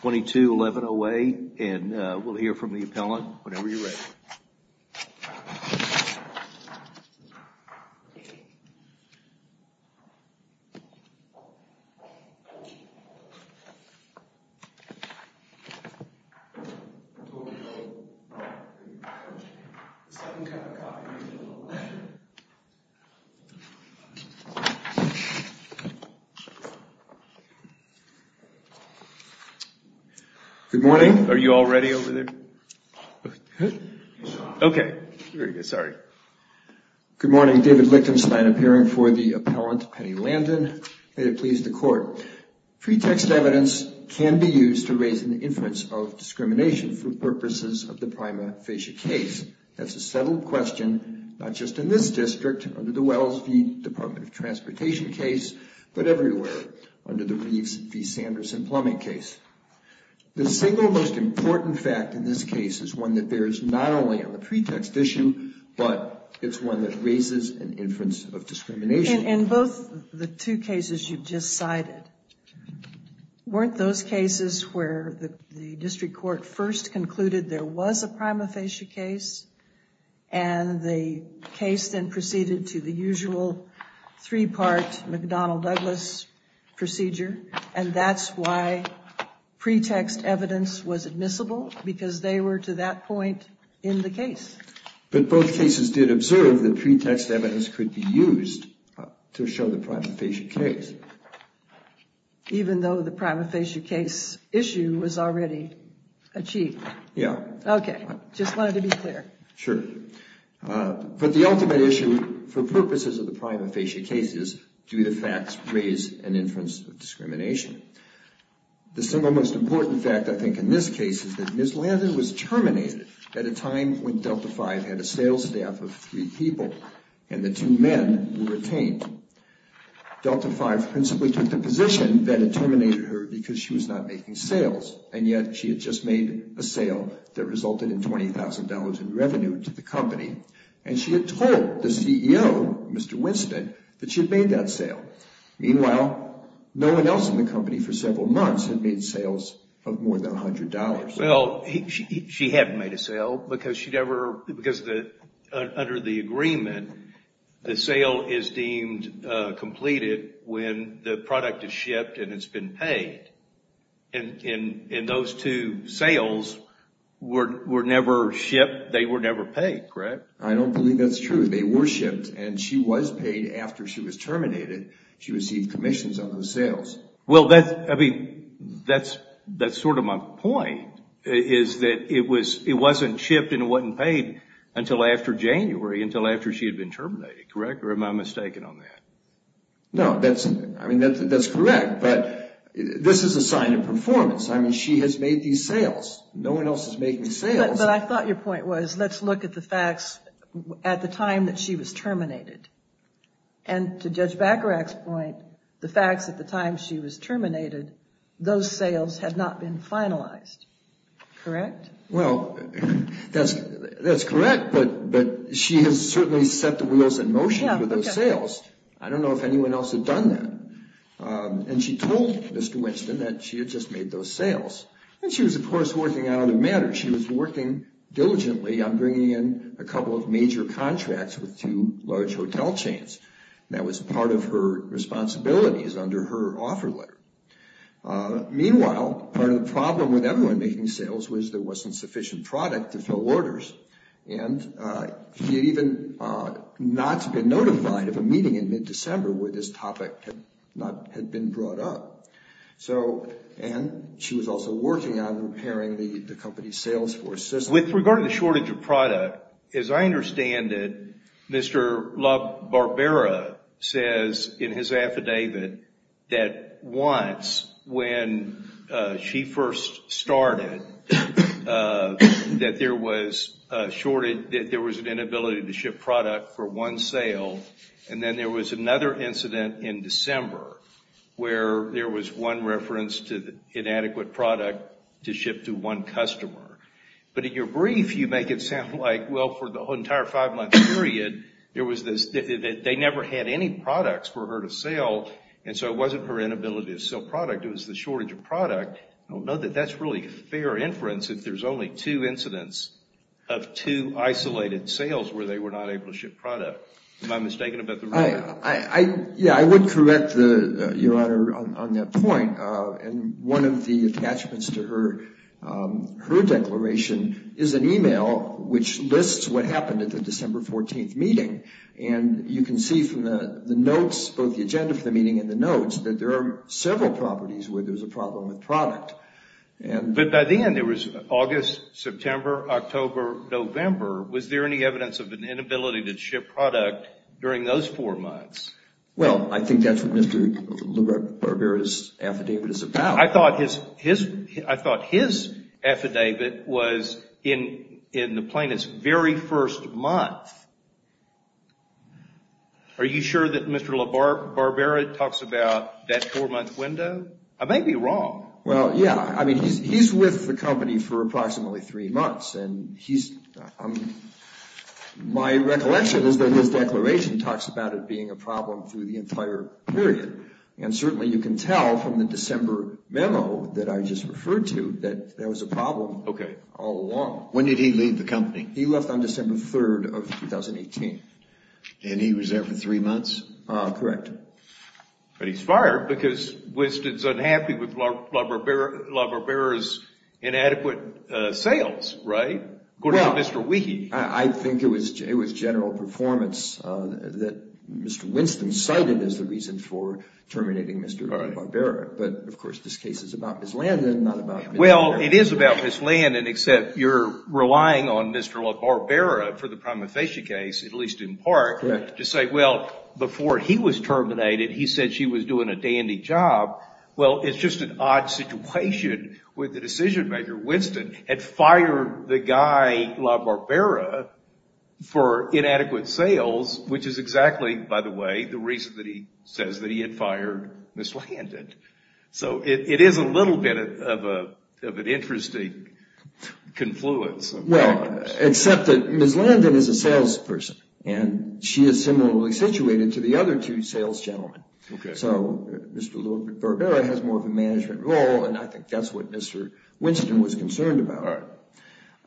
22-1108 and we'll hear from the appellant whenever you're ready. Good morning. Are you already over there? Okay, sorry Good morning, David Lichtenstein, appearing for the appellant, Penny Landon. May it please the court. Pretext evidence can be used to raise an inference of discrimination for purposes of the prima facie case. That's a settled question, not just in this district under the Wells v. Department of Transportation case, but everywhere under the Reeves v. Sanderson plumbing case. The single most important fact in this case is one that bears not only on the pretext issue, but it's one that raises an inference of discrimination. In both the two cases you've just cited, weren't those cases where the district court first concluded there was a prima facie case and the case then proceeded to the usual three-part McDonnell Douglas procedure and that's why pretext evidence was admissible because they were to that point in the case. But both cases did observe that pretext evidence could be used to show the prima facie case. Even though the prima facie case issue was already achieved. Yeah. Okay, just wanted to be clear. Sure. But the ultimate issue for purposes of the prima facie case is do the facts raise an inference of discrimination. The single most important fact I think in this case is that Ms. Landon was terminated at a time when Delta V had a sales staff of three people and the two men were detained. Delta V principally took the position that it terminated her because she was not making sales and yet she had just made a sale that resulted in $20,000 in revenue to the company and she had told the CEO, Mr. Winston, that she had made that sale. Meanwhile, no one else in the company for several months had made sales of more than $100. Well, she hadn't made a sale because she'd ever because the under the agreement the sale is deemed completed when the product is shipped and it's been paid. And in those two sales were never shipped. They were never paid, correct? I don't believe that's true. They were shipped and she was paid after she was terminated. She received commissions on those sales. Well, that's I mean, that's that's sort of my point is that it was it wasn't shipped and it wasn't paid until after January, until after she had been terminated, correct? Or am I mistaken on that? No, that's I mean, that's correct. This is a sign of performance. I mean, she has made these sales. No one else is making sales. But I thought your point was let's look at the facts at the time that she was terminated and to Judge Bacharach's point, the facts at the time she was terminated, those sales had not been finalized. Correct? Well, that's that's correct. But but she has certainly set the wheels in motion with those sales. I don't know if anyone else had done that. And she told Mr. Winston that she had just made those sales and she was, of course, working out of the matter. She was working diligently on bringing in a couple of major contracts with two large hotel chains. That was part of her responsibilities under her offer letter. Meanwhile, part of the problem with everyone making sales was there wasn't sufficient product to fill orders. And she had even not been notified of a meeting in mid-December where this topic had not had been brought up. So and she was also working on repairing the company's sales force. With regard to the shortage of product, as I understand it, Mr. LaBarbera says in his affidavit that once when she first started that there was a shortage, that there was an inability to ship product for one sale. And then there was another incident in December where there was one reference to the inadequate product to ship to one customer. But in your brief, you make it sound like, well, for the entire five-month period there was this, they never had any products for her to sell. And so it wasn't her inability to sell product. It was the shortage of product. I don't know that that's really a fair inference if there's only two incidents of two isolated sales where they were not able to ship product. Am I mistaken about the ruling? I, I, yeah, I would correct the, your Honor, on that point. And one of the attachments to her, her declaration is an email which lists what happened at the December 14th meeting. And you can see from the notes, both the agenda for the meeting and the notes, that there are several properties where there's a problem with product. And, but by the end, it was August, September, October, November. Was there any evidence of an inability to ship product during those four months? Well, I think that's what Mr. LaBarbera's affidavit is about. I thought his, his, I thought his affidavit was in, in the plaintiff's very first month. Are you sure that Mr. LaBarbera talks about that four-month window? I may be wrong. Well, yeah. I mean, he's, he's with the company for approximately three months, and he's, my recollection is that his declaration talks about it being a problem through the entire period. And certainly you can tell from the December memo that I just referred to that there was a problem. Okay. All along. When did he leave the company? He left on December 3rd of 2018. And he was there for three months? Correct. But he's fired because Winston's unhappy with LaBarbera's inadequate sales, right? According to Mr. Weehy. I think it was, it was general performance that Mr. Winston cited as the reason for terminating Mr. LaBarbera. But, of course, this case is about Ms. Landon, not about Mr. Weehy. Well, it is about Ms. Landon, except you're relying on Mr. LaBarbera for the prima facie case, at least in part, to say, well, before he was terminated, he said she was doing a dandy job. Well, it's just an odd situation with the decision-maker. Winston had fired the guy, LaBarbera, for inadequate sales, which is exactly, by the way, the reason that he says that he had fired Ms. Landon. So it is a little bit of a, of an interesting confluence. Well, except that Ms. Landon is a salesperson, and she is similarly situated to the other two sales gentlemen. Okay. So, Mr. LaBarbera has more of a management role, and I think that's what Mr. Winston was concerned about.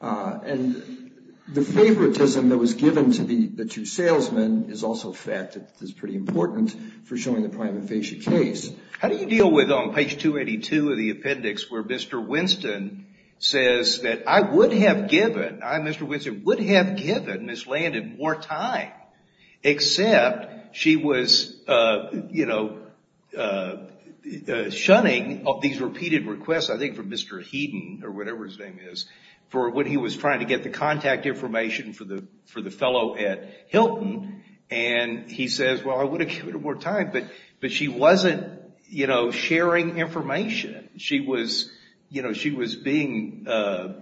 And the favoritism that was given to the two salesmen is also a fact that is pretty important for showing the prima facie case. How do you deal with, on page 282 of the appendix, where Mr. Winston says that, I would have given, I, Mr. Winston, would have given Ms. Landon more time, except she was, you know, shunning these repeated requests, I think, from Mr. Heaton, or whatever his name is, for when he was trying to get the contact information for the fellow at Hilton, and he says, well, I would have given her more time, but she wasn't, you know, sharing information. She was, you know, she was being, you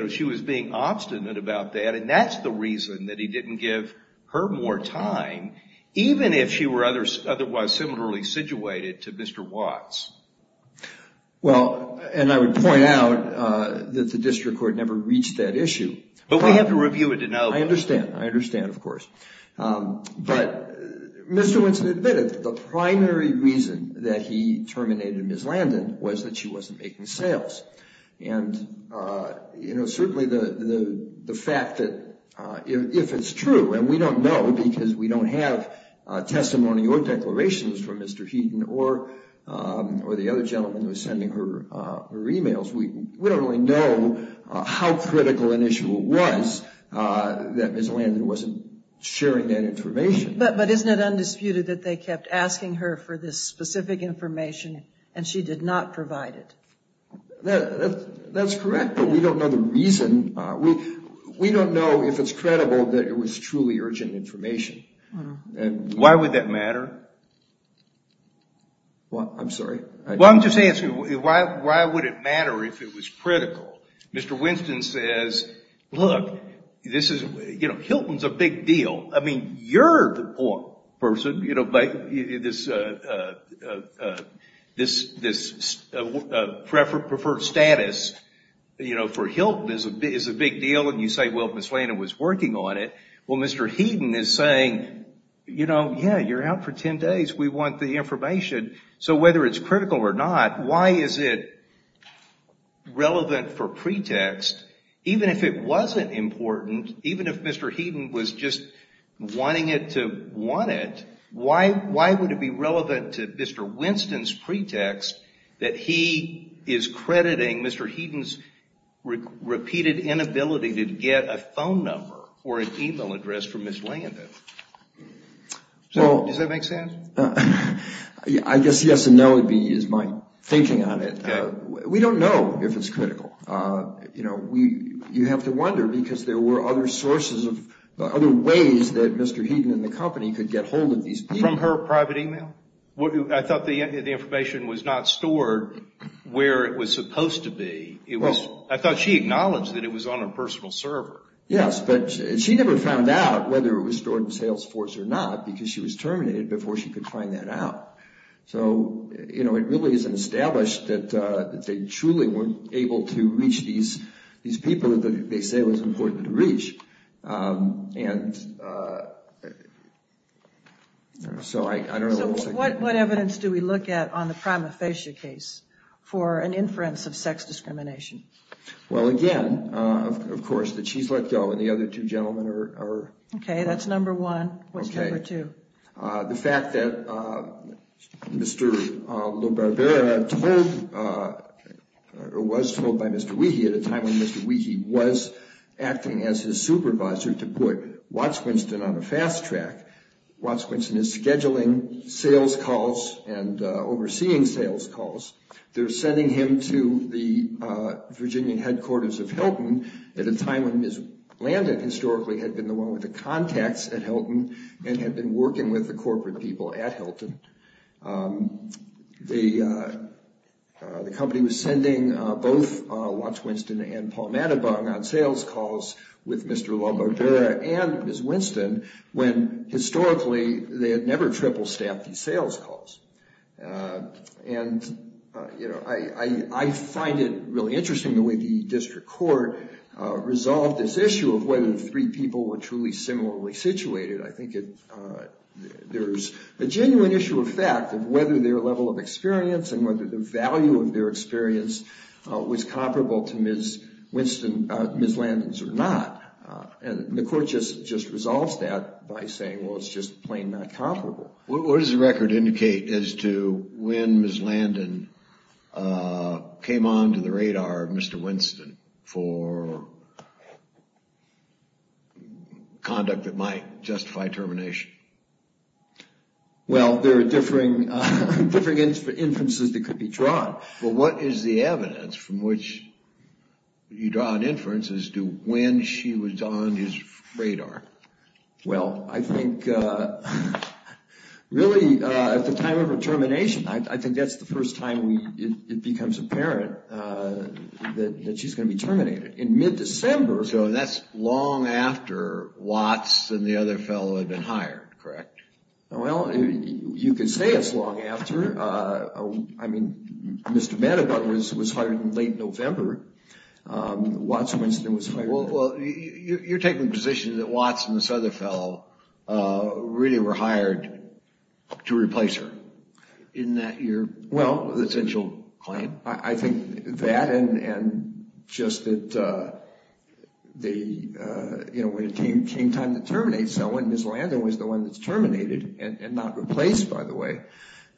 know, she was being obstinate about that, and that's the reason that he didn't give her more time, even if she were otherwise similarly situated to Mr. Watts. Well, and I would point out that the district court never reached that issue. But we have to review it to know. I understand. I understand, of course. But, Mr. Winston admitted that the primary reason that he terminated Ms. Landon was that she wasn't making sales, and you know, certainly the fact that, if it's true, and we don't know, because we don't have testimony or declarations from Mr. Heaton, or the other gentleman who was sending her emails, we don't really know how critical an issue it was that Ms. Landon wasn't sharing that information. But isn't it undisputed that they kept asking her for this specific information, and she did not provide it? That's correct, but we don't know the reason. We don't know if it's credible that it was truly urgent information. Why would that matter? Well, I'm sorry. Well, I'm just asking, why would it matter if it was critical? Mr. Winston says, look, this is, you know, Hilton's a big deal. I mean, you're the person, you know, but this this preferred status, you know, for Hilton is a big deal, and you say, well, Ms. Landon was working on it. Well, Mr. Heaton is saying, you know, yeah, you're out for ten days. We want the information. So whether it's critical or not, why is it important? If it wasn't important, even if Mr. Heaton was just wanting it to want it, why would it be relevant to Mr. Winston's pretext that he is crediting Mr. Heaton's repeated inability to get a phone number or an email address from Ms. Landon? So, does that make sense? I guess yes and no would be my thinking on it. We don't know if it's critical. You know, we, you have to wonder because there were other sources of other ways that Mr. Heaton and the company could get hold of these people. From her private email? Well, I thought the information was not stored where it was supposed to be. It was, I thought she acknowledged that it was on her personal server. Yes, but she never found out whether it was stored in Salesforce or not because she was terminated before she could find that out. So, you know, it really isn't established that they truly weren't able to reach these people that they say was important to reach. So, what evidence do we look at on the prima facie case for an inference of sex discrimination? Well, again, of course, that she's let go and the other two gentlemen are... Okay, that's number one. What's number two? The fact that Mr. LoBarbera told or was told by Mr. Weehy at a time when Mr. Weehy was acting as his supervisor to put Watts-Quinston on a fast track. Watts-Quinston is scheduling sales calls and overseeing sales calls. They're sending him to the Virginia headquarters of Hilton at a time when Ms. Landon historically had been the one with the contacts at Hilton and had been working with the corporate people at Hilton. The company was sending both Watts-Quinston and Paul Madabong on sales calls with Mr. LoBarbera and Ms. Winston when historically they had never triple-staffed these sales calls. And, you know, I find it really interesting the way the district court resolved this issue of whether the three people were truly similarly situated. I think it... It's a genuine issue of fact of whether their level of experience and whether the value of their experience was comparable to Ms. Landon's or not. And the court just resolves that by saying, well, it's just plain not comparable. What does the record indicate as to when Ms. Landon came on to the radar of Mr. Winston for conduct that might justify termination? Well, there are differing... differing inferences that could be drawn. Well, what is the evidence from which you draw an inference as to when she was on his radar? Well, I think really at the time of her termination, I think that's the first time it becomes apparent that she's going to be terminated. In mid-December... So that's long after Watts and the other fellow had been hired, correct? Well, you could say it's long after. I mean, Mr. Vanderbilt was hired in late November. Watts and Winston was hired... Well, you're taking the position that Watts and this other fellow really were hired to replace her. Isn't that your... Well... ...potential claim? I think that and just that they, you know, when it came time to terminate someone, Ms. Landon was the one that's terminated and not replaced, by the way.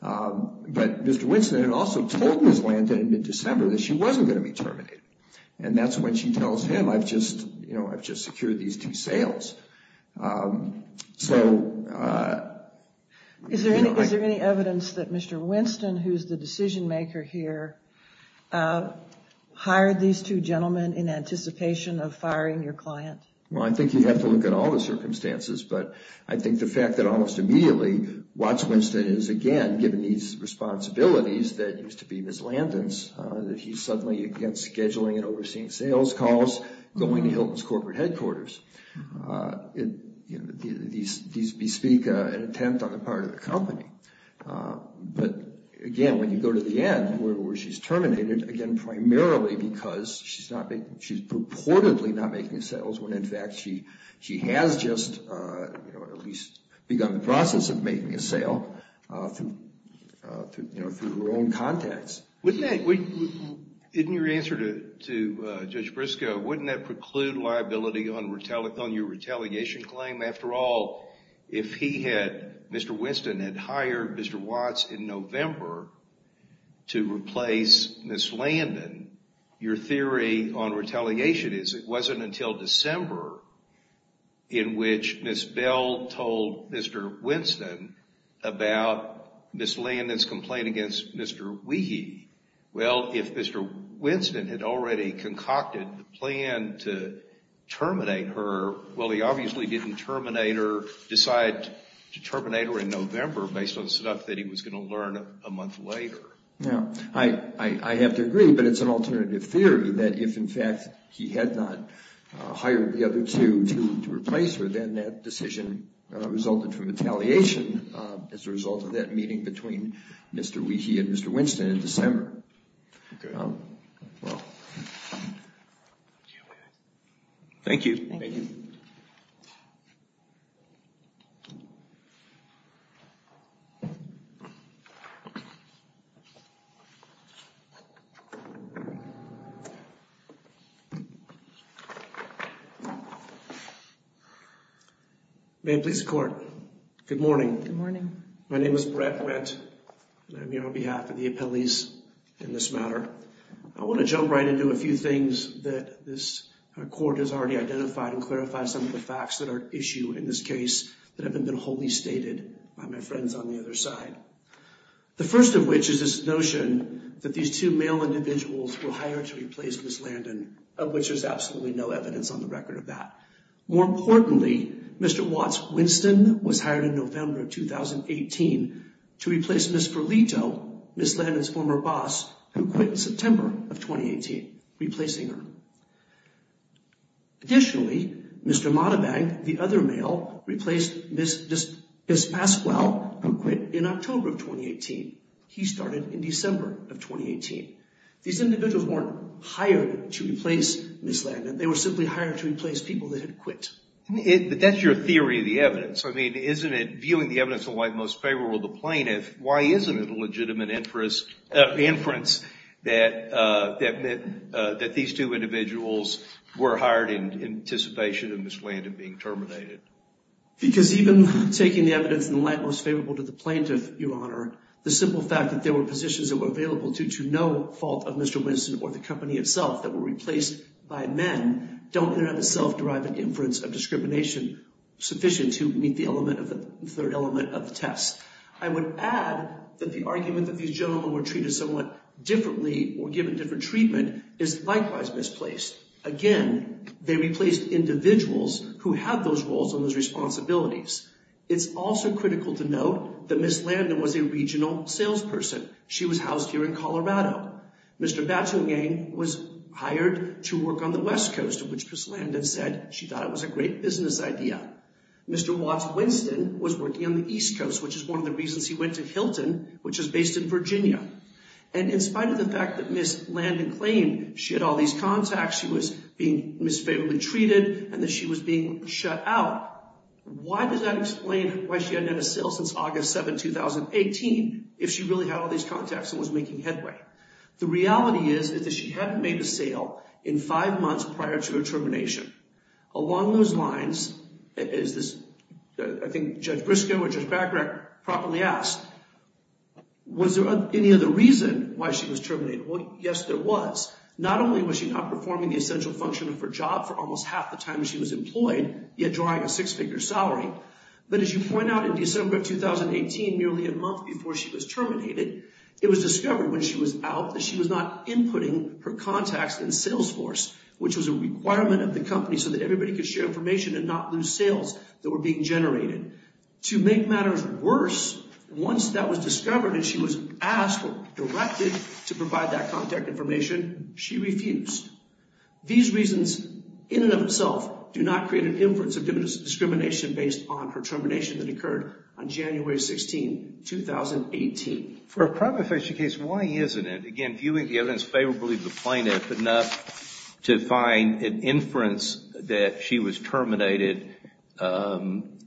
But Mr. Winston had also told Ms. Landon in mid-December that she wasn't going to be terminated. And that's when she tells him, I've just, you know, I've just secured these two sales. So... Is there any evidence that Mr. Winston, who's the decision-maker here, hired these two gentlemen in anticipation of firing your client? Well, I think you have to look at all the circumstances, but I think the fact that almost immediately, Watts-Winston is again given these responsibilities that used to be Ms. Landon's, that he's suddenly again scheduling and overseeing sales calls, going to Hilton's corporate headquarters. These bespeak an attempt on the part of the company. But again, when you go to the end, where she's terminated, again, primarily because she's not being... She's purportedly not making sales, when in fact she has just, you know, at least begun the process of making a sale through, you know, through her own contacts. Wouldn't that... In your answer to Judge Briscoe, wouldn't that preclude liability on your retaliation claim? After all, if he had... hired Mr. Watts in November to replace Ms. Landon, your theory on retaliation is it wasn't until December in which Ms. Bell told Mr. Winston about Ms. Landon's complaint against Mr. Weehy. Well, if Mr. Winston had already concocted the plan to terminate her, well, he obviously didn't terminate her, decide to terminate her in November based on the stuff that he was going to learn a month later. Now, I have to agree, but it's an alternative theory that if in fact he had not hired the other two to replace her, then that decision resulted from retaliation as a result of that meeting between Mr. Weehy and Mr. Winston in December. Thank you. Thank you. May it please the court. Good morning. Good morning. My name is Brett Wendt, and I'm here on behalf of the appellees in this matter. I want to jump right into a few things that this appellee stated by my friends on the other side. The first of which is this notion that these two male individuals were hired to replace Ms. Landon, of which there's absolutely no evidence on the record of that. More importantly, Mr. Watts Winston was hired in November of 2018 to replace Ms. Ferlito, Ms. Landon's former boss, who quit in September of 2018, replacing her. Additionally, Mr. Monabank, the other male, replaced Ms. Pasquale, who quit in October of 2018. He started in December of 2018. These individuals weren't hired to replace Ms. Landon. They were simply hired to replace people that had quit. But that's your theory of the evidence. I mean, isn't it, viewing the evidence on why it's most favorable to the plaintiff, why isn't it a legitimate inference that that these two individuals were hired in anticipation of Ms. Landon being terminated? Because even taking the evidence in the light most favorable to the plaintiff, Your Honor, the simple fact that there were positions that were available due to no fault of Mr. Winston or the company itself that were replaced by men don't have a self-deriving inference of discrimination sufficient to meet the element of the third element of the test. I would add that the argument that these gentlemen were treated somewhat differently or given different treatment is likewise misplaced. Again, they replaced individuals who had those roles and those responsibilities. It's also critical to note that Ms. Landon was a regional salesperson. She was housed here in Colorado. Mr. Batuangang was hired to work on the West Coast, of which Ms. Landon said she thought it was a great business idea. Mr. Watts-Winston was working on the East Coast, which is one of the reasons he went to Hilton, which is based in Virginia. And in spite of the fact that Ms. Landon claimed she had all these contacts, she was being misfavorably treated, and that she was being shut out, why does that explain why she hadn't had a sale since August 7, 2018, if she really had all these contacts and was making headway? The reality is that she hadn't made a sale in five months prior to her termination. Along those lines, as I think Judge Briscoe or Judge Bagrec properly asked, was there any other reason why she was terminated? Well, yes, there was. Not only was she not performing the essential function of her job for almost half the time she was employed, yet drawing a six-figure salary, but as you point out, in December 2018, nearly a month before she was terminated, it was discovered when she was out that she was not inputting her contacts in Salesforce, which was a requirement of the company so that everybody could share information and not lose sales that were being generated. To make matters worse, once that was discovered and she was asked or directed to provide that contact information, she refused. These reasons, in and of themselves, do not create an inference of discrimination based on her termination that occurred on January 16, 2018. For a crime prevention case, why isn't it, again, viewing the evidence favorably of the plaintiff enough to find an inference that she was terminated based on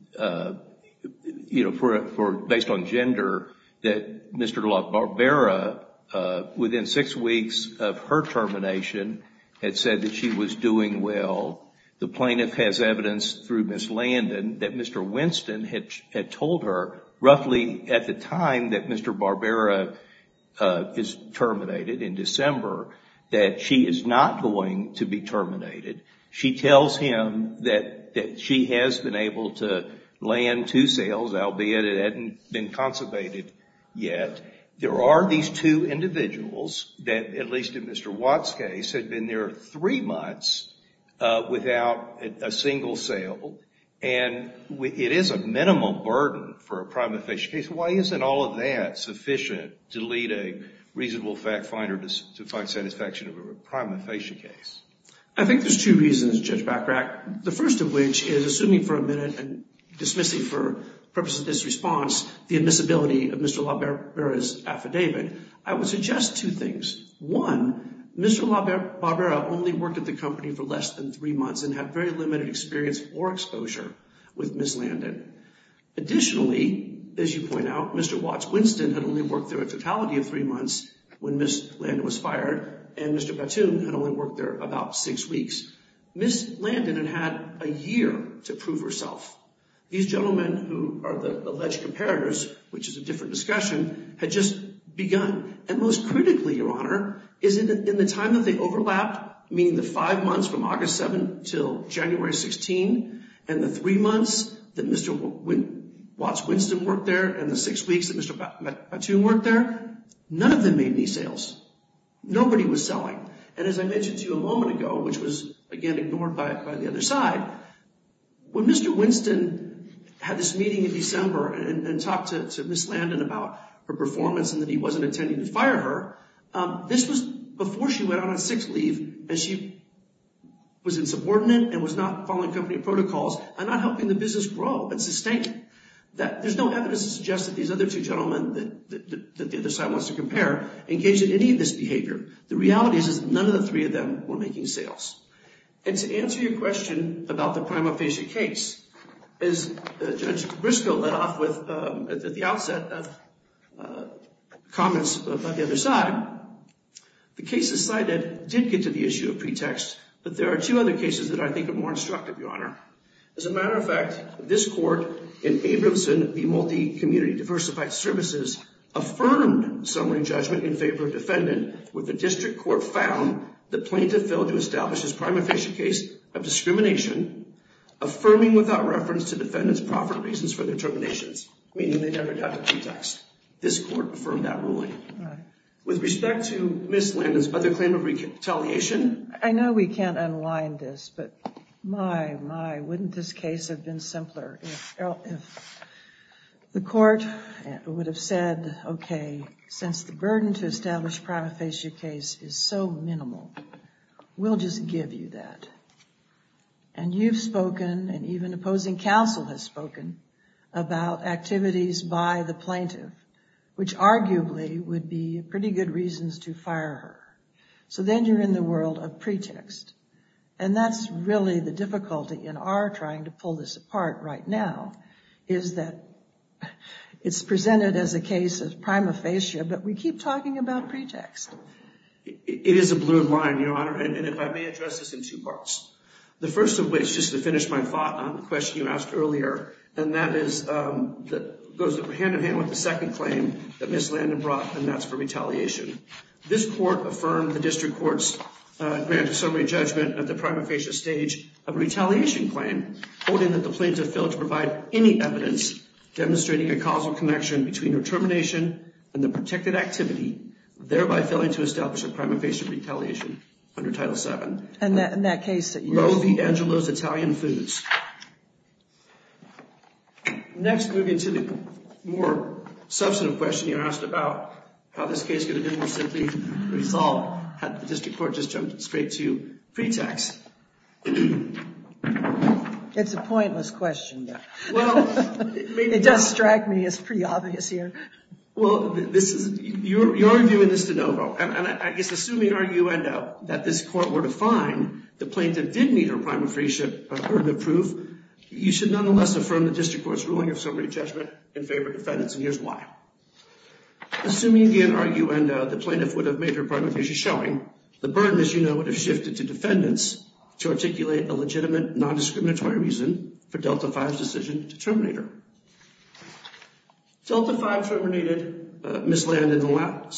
gender, that Mr. Barbera, within six weeks of her termination, had said that she was doing well? The plaintiff has evidence through Ms. Landon that Mr. Winston had told her, roughly at the time that Mr. Barbera is terminated, in December, that she is not going to be terminated. She tells him that she has been able to land two sales, albeit it hadn't been conservated yet. There are these two individuals that, at least in Mr. Watt's case, had been there three months without a single sale, and it is a minimum burden for a crime prevention case. Why isn't all of that sufficient to lead a reasonable fact finder to find satisfaction of a crime prevention case? I think there's two reasons, Judge Bachrach. The first of which is, assuming for a minute, and dismissing for purposes of this response, the admissibility of Mr. Barbera's affidavit, I would suggest two things. One, Mr. Barbera only worked at the company for less than three months and had very limited experience or exposure with Ms. Landon. Additionally, as you point out, Mr. Watt's Winston had only worked there a totality of three months when Ms. Landon was fired, and Mr. Batum had only worked there about six weeks. Ms. Landon had had a year to prove herself. These gentlemen who are the alleged comparators, which is a different discussion, had just begun, and most critically, Your Honor, is in the time that they overlapped, meaning the five months from August 7 until January 16, and the three months that Mr. Watt's Winston worked there and the six weeks that Mr. Batum worked there, none of them made any sales. Nobody was selling. And as I mentioned to you a moment ago, which was, again, ignored by the other side, when Mr. Winston had this meeting in December and talked to Ms. Landon about her performance and that he wasn't intending to fire her, this was before she went on her sixth leave and she was insubordinate and was not following company protocols and not helping the business grow and sustain it. There's no evidence to suggest that these other two gentlemen that the other side wants to compare engaged in any of this behavior. The reality is that none of the three of them were making sales. And to answer your question about the prima facie case, as Judge Briscoe led off with at the outset of comments by the other side, the cases cited did get to the issue of pretext, but there are two other cases that I think are more instructive, Your Honor. As a matter of fact, this court in Abramson v. Multicommunity Diversified Services affirmed summary judgment in favor of defendant when the district court found the plaintiff failed to establish his prima facie case of discrimination, affirming without reference to defendant's profit reasons for their terminations, meaning they never got a pretext. This court affirmed that ruling. With respect to Ms. Landon's other claim of retaliation... I know we can't unwind this, but my, my, wouldn't this case have been simpler if the court would have said, okay, since the burden to establish prima facie case is so minimal, we'll just give you that. And you've spoken, and even opposing counsel has spoken, about activities by the plaintiff, which arguably would be pretty good reasons to fire her. So then you're in the world of pretext. And that's really the difficulty in our trying to pull this apart right now, is that it's presented as a case of prima facie, but we keep talking about pretext. It is a blurred line, Your Honor, and if I may address this in two parts. The first of which, just to finish my thought on the question you asked earlier, and that is, goes hand-in-hand with the second claim that Ms. Landon brought, and that's for retaliation. This court affirmed the district court's granted summary judgment at the prima facie stage of a retaliation claim, holding that the plaintiff failed to provide any evidence demonstrating a causal connection between her termination and the protected activity, thereby failing to establish a prima facie retaliation under Title VII. And that case that you're referring to? Lovi Angelo's Italian Foods. Next, moving to the more substantive question you asked about how this case could have been more simply resolved had the district court just jumped straight to pretext. It's a pointless question, though. Well, maybe not. It does strike me as pretty obvious here. Well, you're arguing this de novo, and I guess assuming arguendo that this court were to find the plaintiff did need her prima facie burden of proof, you should nonetheless affirm the district court's ruling of summary judgment in favor of defendants, and here's why. Assuming, again, arguendo, the plaintiff would have made her prima facie showing, the burden, as you know, would have shifted to defendants to articulate a legitimate non-discriminatory reason for Delta V's decision to terminate her. Delta V terminated Ms. Landon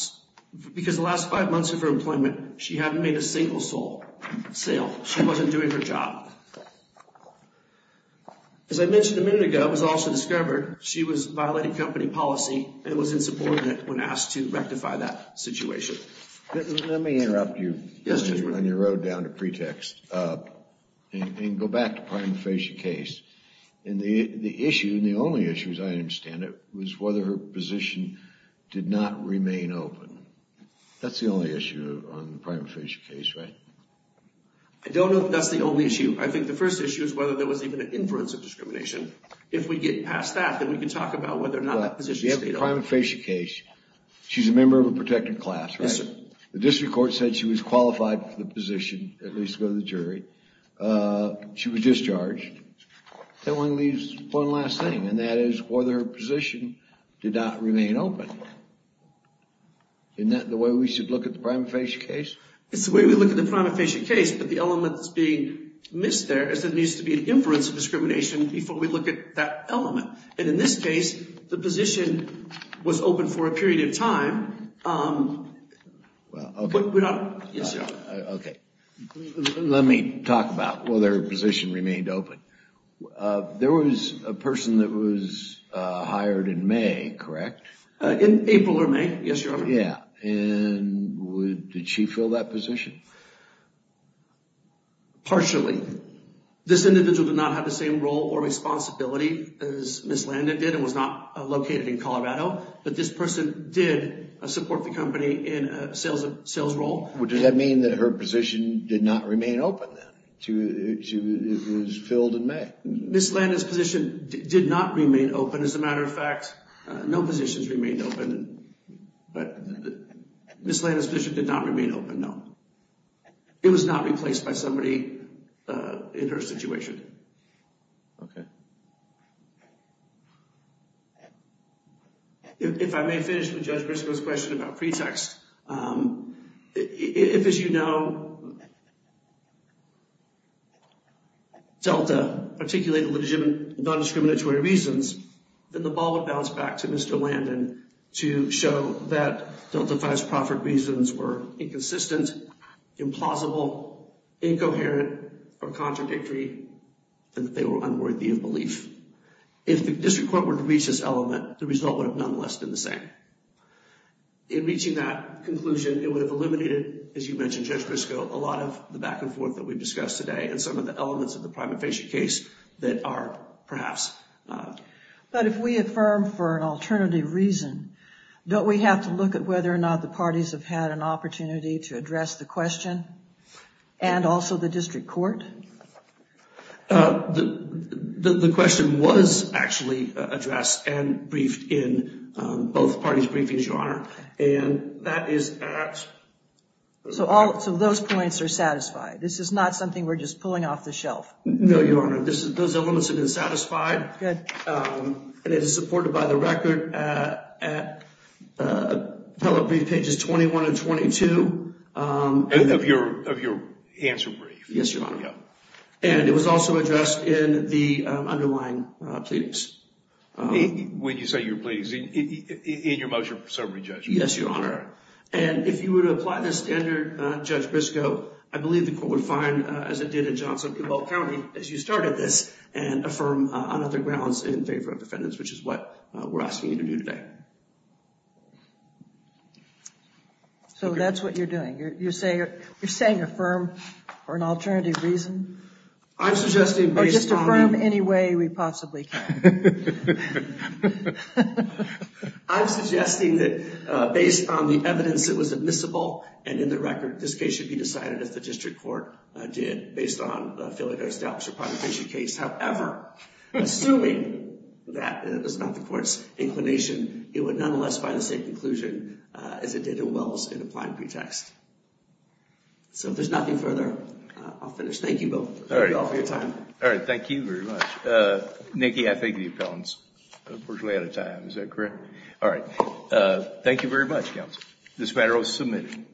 because the last five months of her employment, she hadn't made a single sale. She wasn't doing her job. As I mentioned a minute ago, it was also discovered she was violating company policy and was insubordinate when asked to rectify that situation. Let me interrupt you on your road down to pretext and go back to the prima facie case. The issue, and the only issue as I understand it, was whether her position did not remain open. That's the only issue on the prima facie case, right? I don't know if that's the only issue. I think the first issue is whether there was even an influence of discrimination. If we get past that, then we can talk about whether or not the position stayed open. You have the prima facie case. She's a member of a protected class, right? Yes, sir. She was discharged. That leaves one last thing, and that is whether her position did not remain open. Isn't that the way we should look at the prima facie case? It's the way we look at the prima facie case, but the element that's being missed there is there needs to be an influence of discrimination before we look at that element. In this case, the position was open for a period of time. Let me talk about whether her position remained open. There was a person that was hired in May, correct? In April or May, yes, Your Honor. Did she fill that position? Partially. This individual did not have the same role or responsibility as Ms. Landon did and was not located in Colorado, but this person did support the company in a sales role. Does that mean that her position did not remain open then? She was filled in May. Ms. Landon's position did not remain open. As a matter of fact, no positions remained open, but Ms. Landon's position did not remain open, no. It was not replaced by somebody in her situation. Okay. If I may finish with Judge Briscoe's question about pretext, if, as you know, Delta articulated non-discriminatory reasons, then the ball would bounce back to Mr. Landon to show that Delta V's proffered reasons were inconsistent, implausible, incoherent, or contradictory and that they were unworthy of belief. If the district court were to reach this element, the result would have nonetheless been the same. In reaching that conclusion, it would have eliminated, as you mentioned, Judge Briscoe, a lot of the back and forth that we've discussed today and some of the elements of the prima facie case that are perhaps... But if we affirm for an alternative reason, don't we have to look at whether or not the parties have had an opportunity to address the question and also the district court? The question was actually addressed and briefed in both parties' briefings, Your Honor, and that is at... So those points are satisfied? This is not something we're just pulling off the shelf? No, Your Honor. Those elements have been satisfied. Good. And it is supported by the record at tele-brief pages 21 and 22. Of your answer brief. Yes, Your Honor. And it was also addressed in the underlying pleadings. When you say your pleadings, in your motion for summary, Judge? Yes, Your Honor. And if you were to apply this standard, Judge Briscoe, I believe the court would find, as it did in Johnson and Cobalt County, as you started this, and affirm on other grounds in favor of defendants, which is what we're asking you to do today. So that's what you're doing. You're saying affirm for an alternative reason? I'm suggesting based on... Or just affirm any way we possibly can. I'm suggesting that based on the evidence that was admissible and in the record this case should be decided, as the district court did, based on the failure to establish a prior conviction case. However, assuming that is not the court's inclination, it would nonetheless find the same conclusion as it did in Wells in applying pretext. So if there's nothing further, I'll finish. Thank you, Bill. Thank you all for your time. All right. Thank you very much. Nikki, I think the appellant's unfortunately out of time. Is that correct? All right. Thank you very much, counsel. This matter is submitted.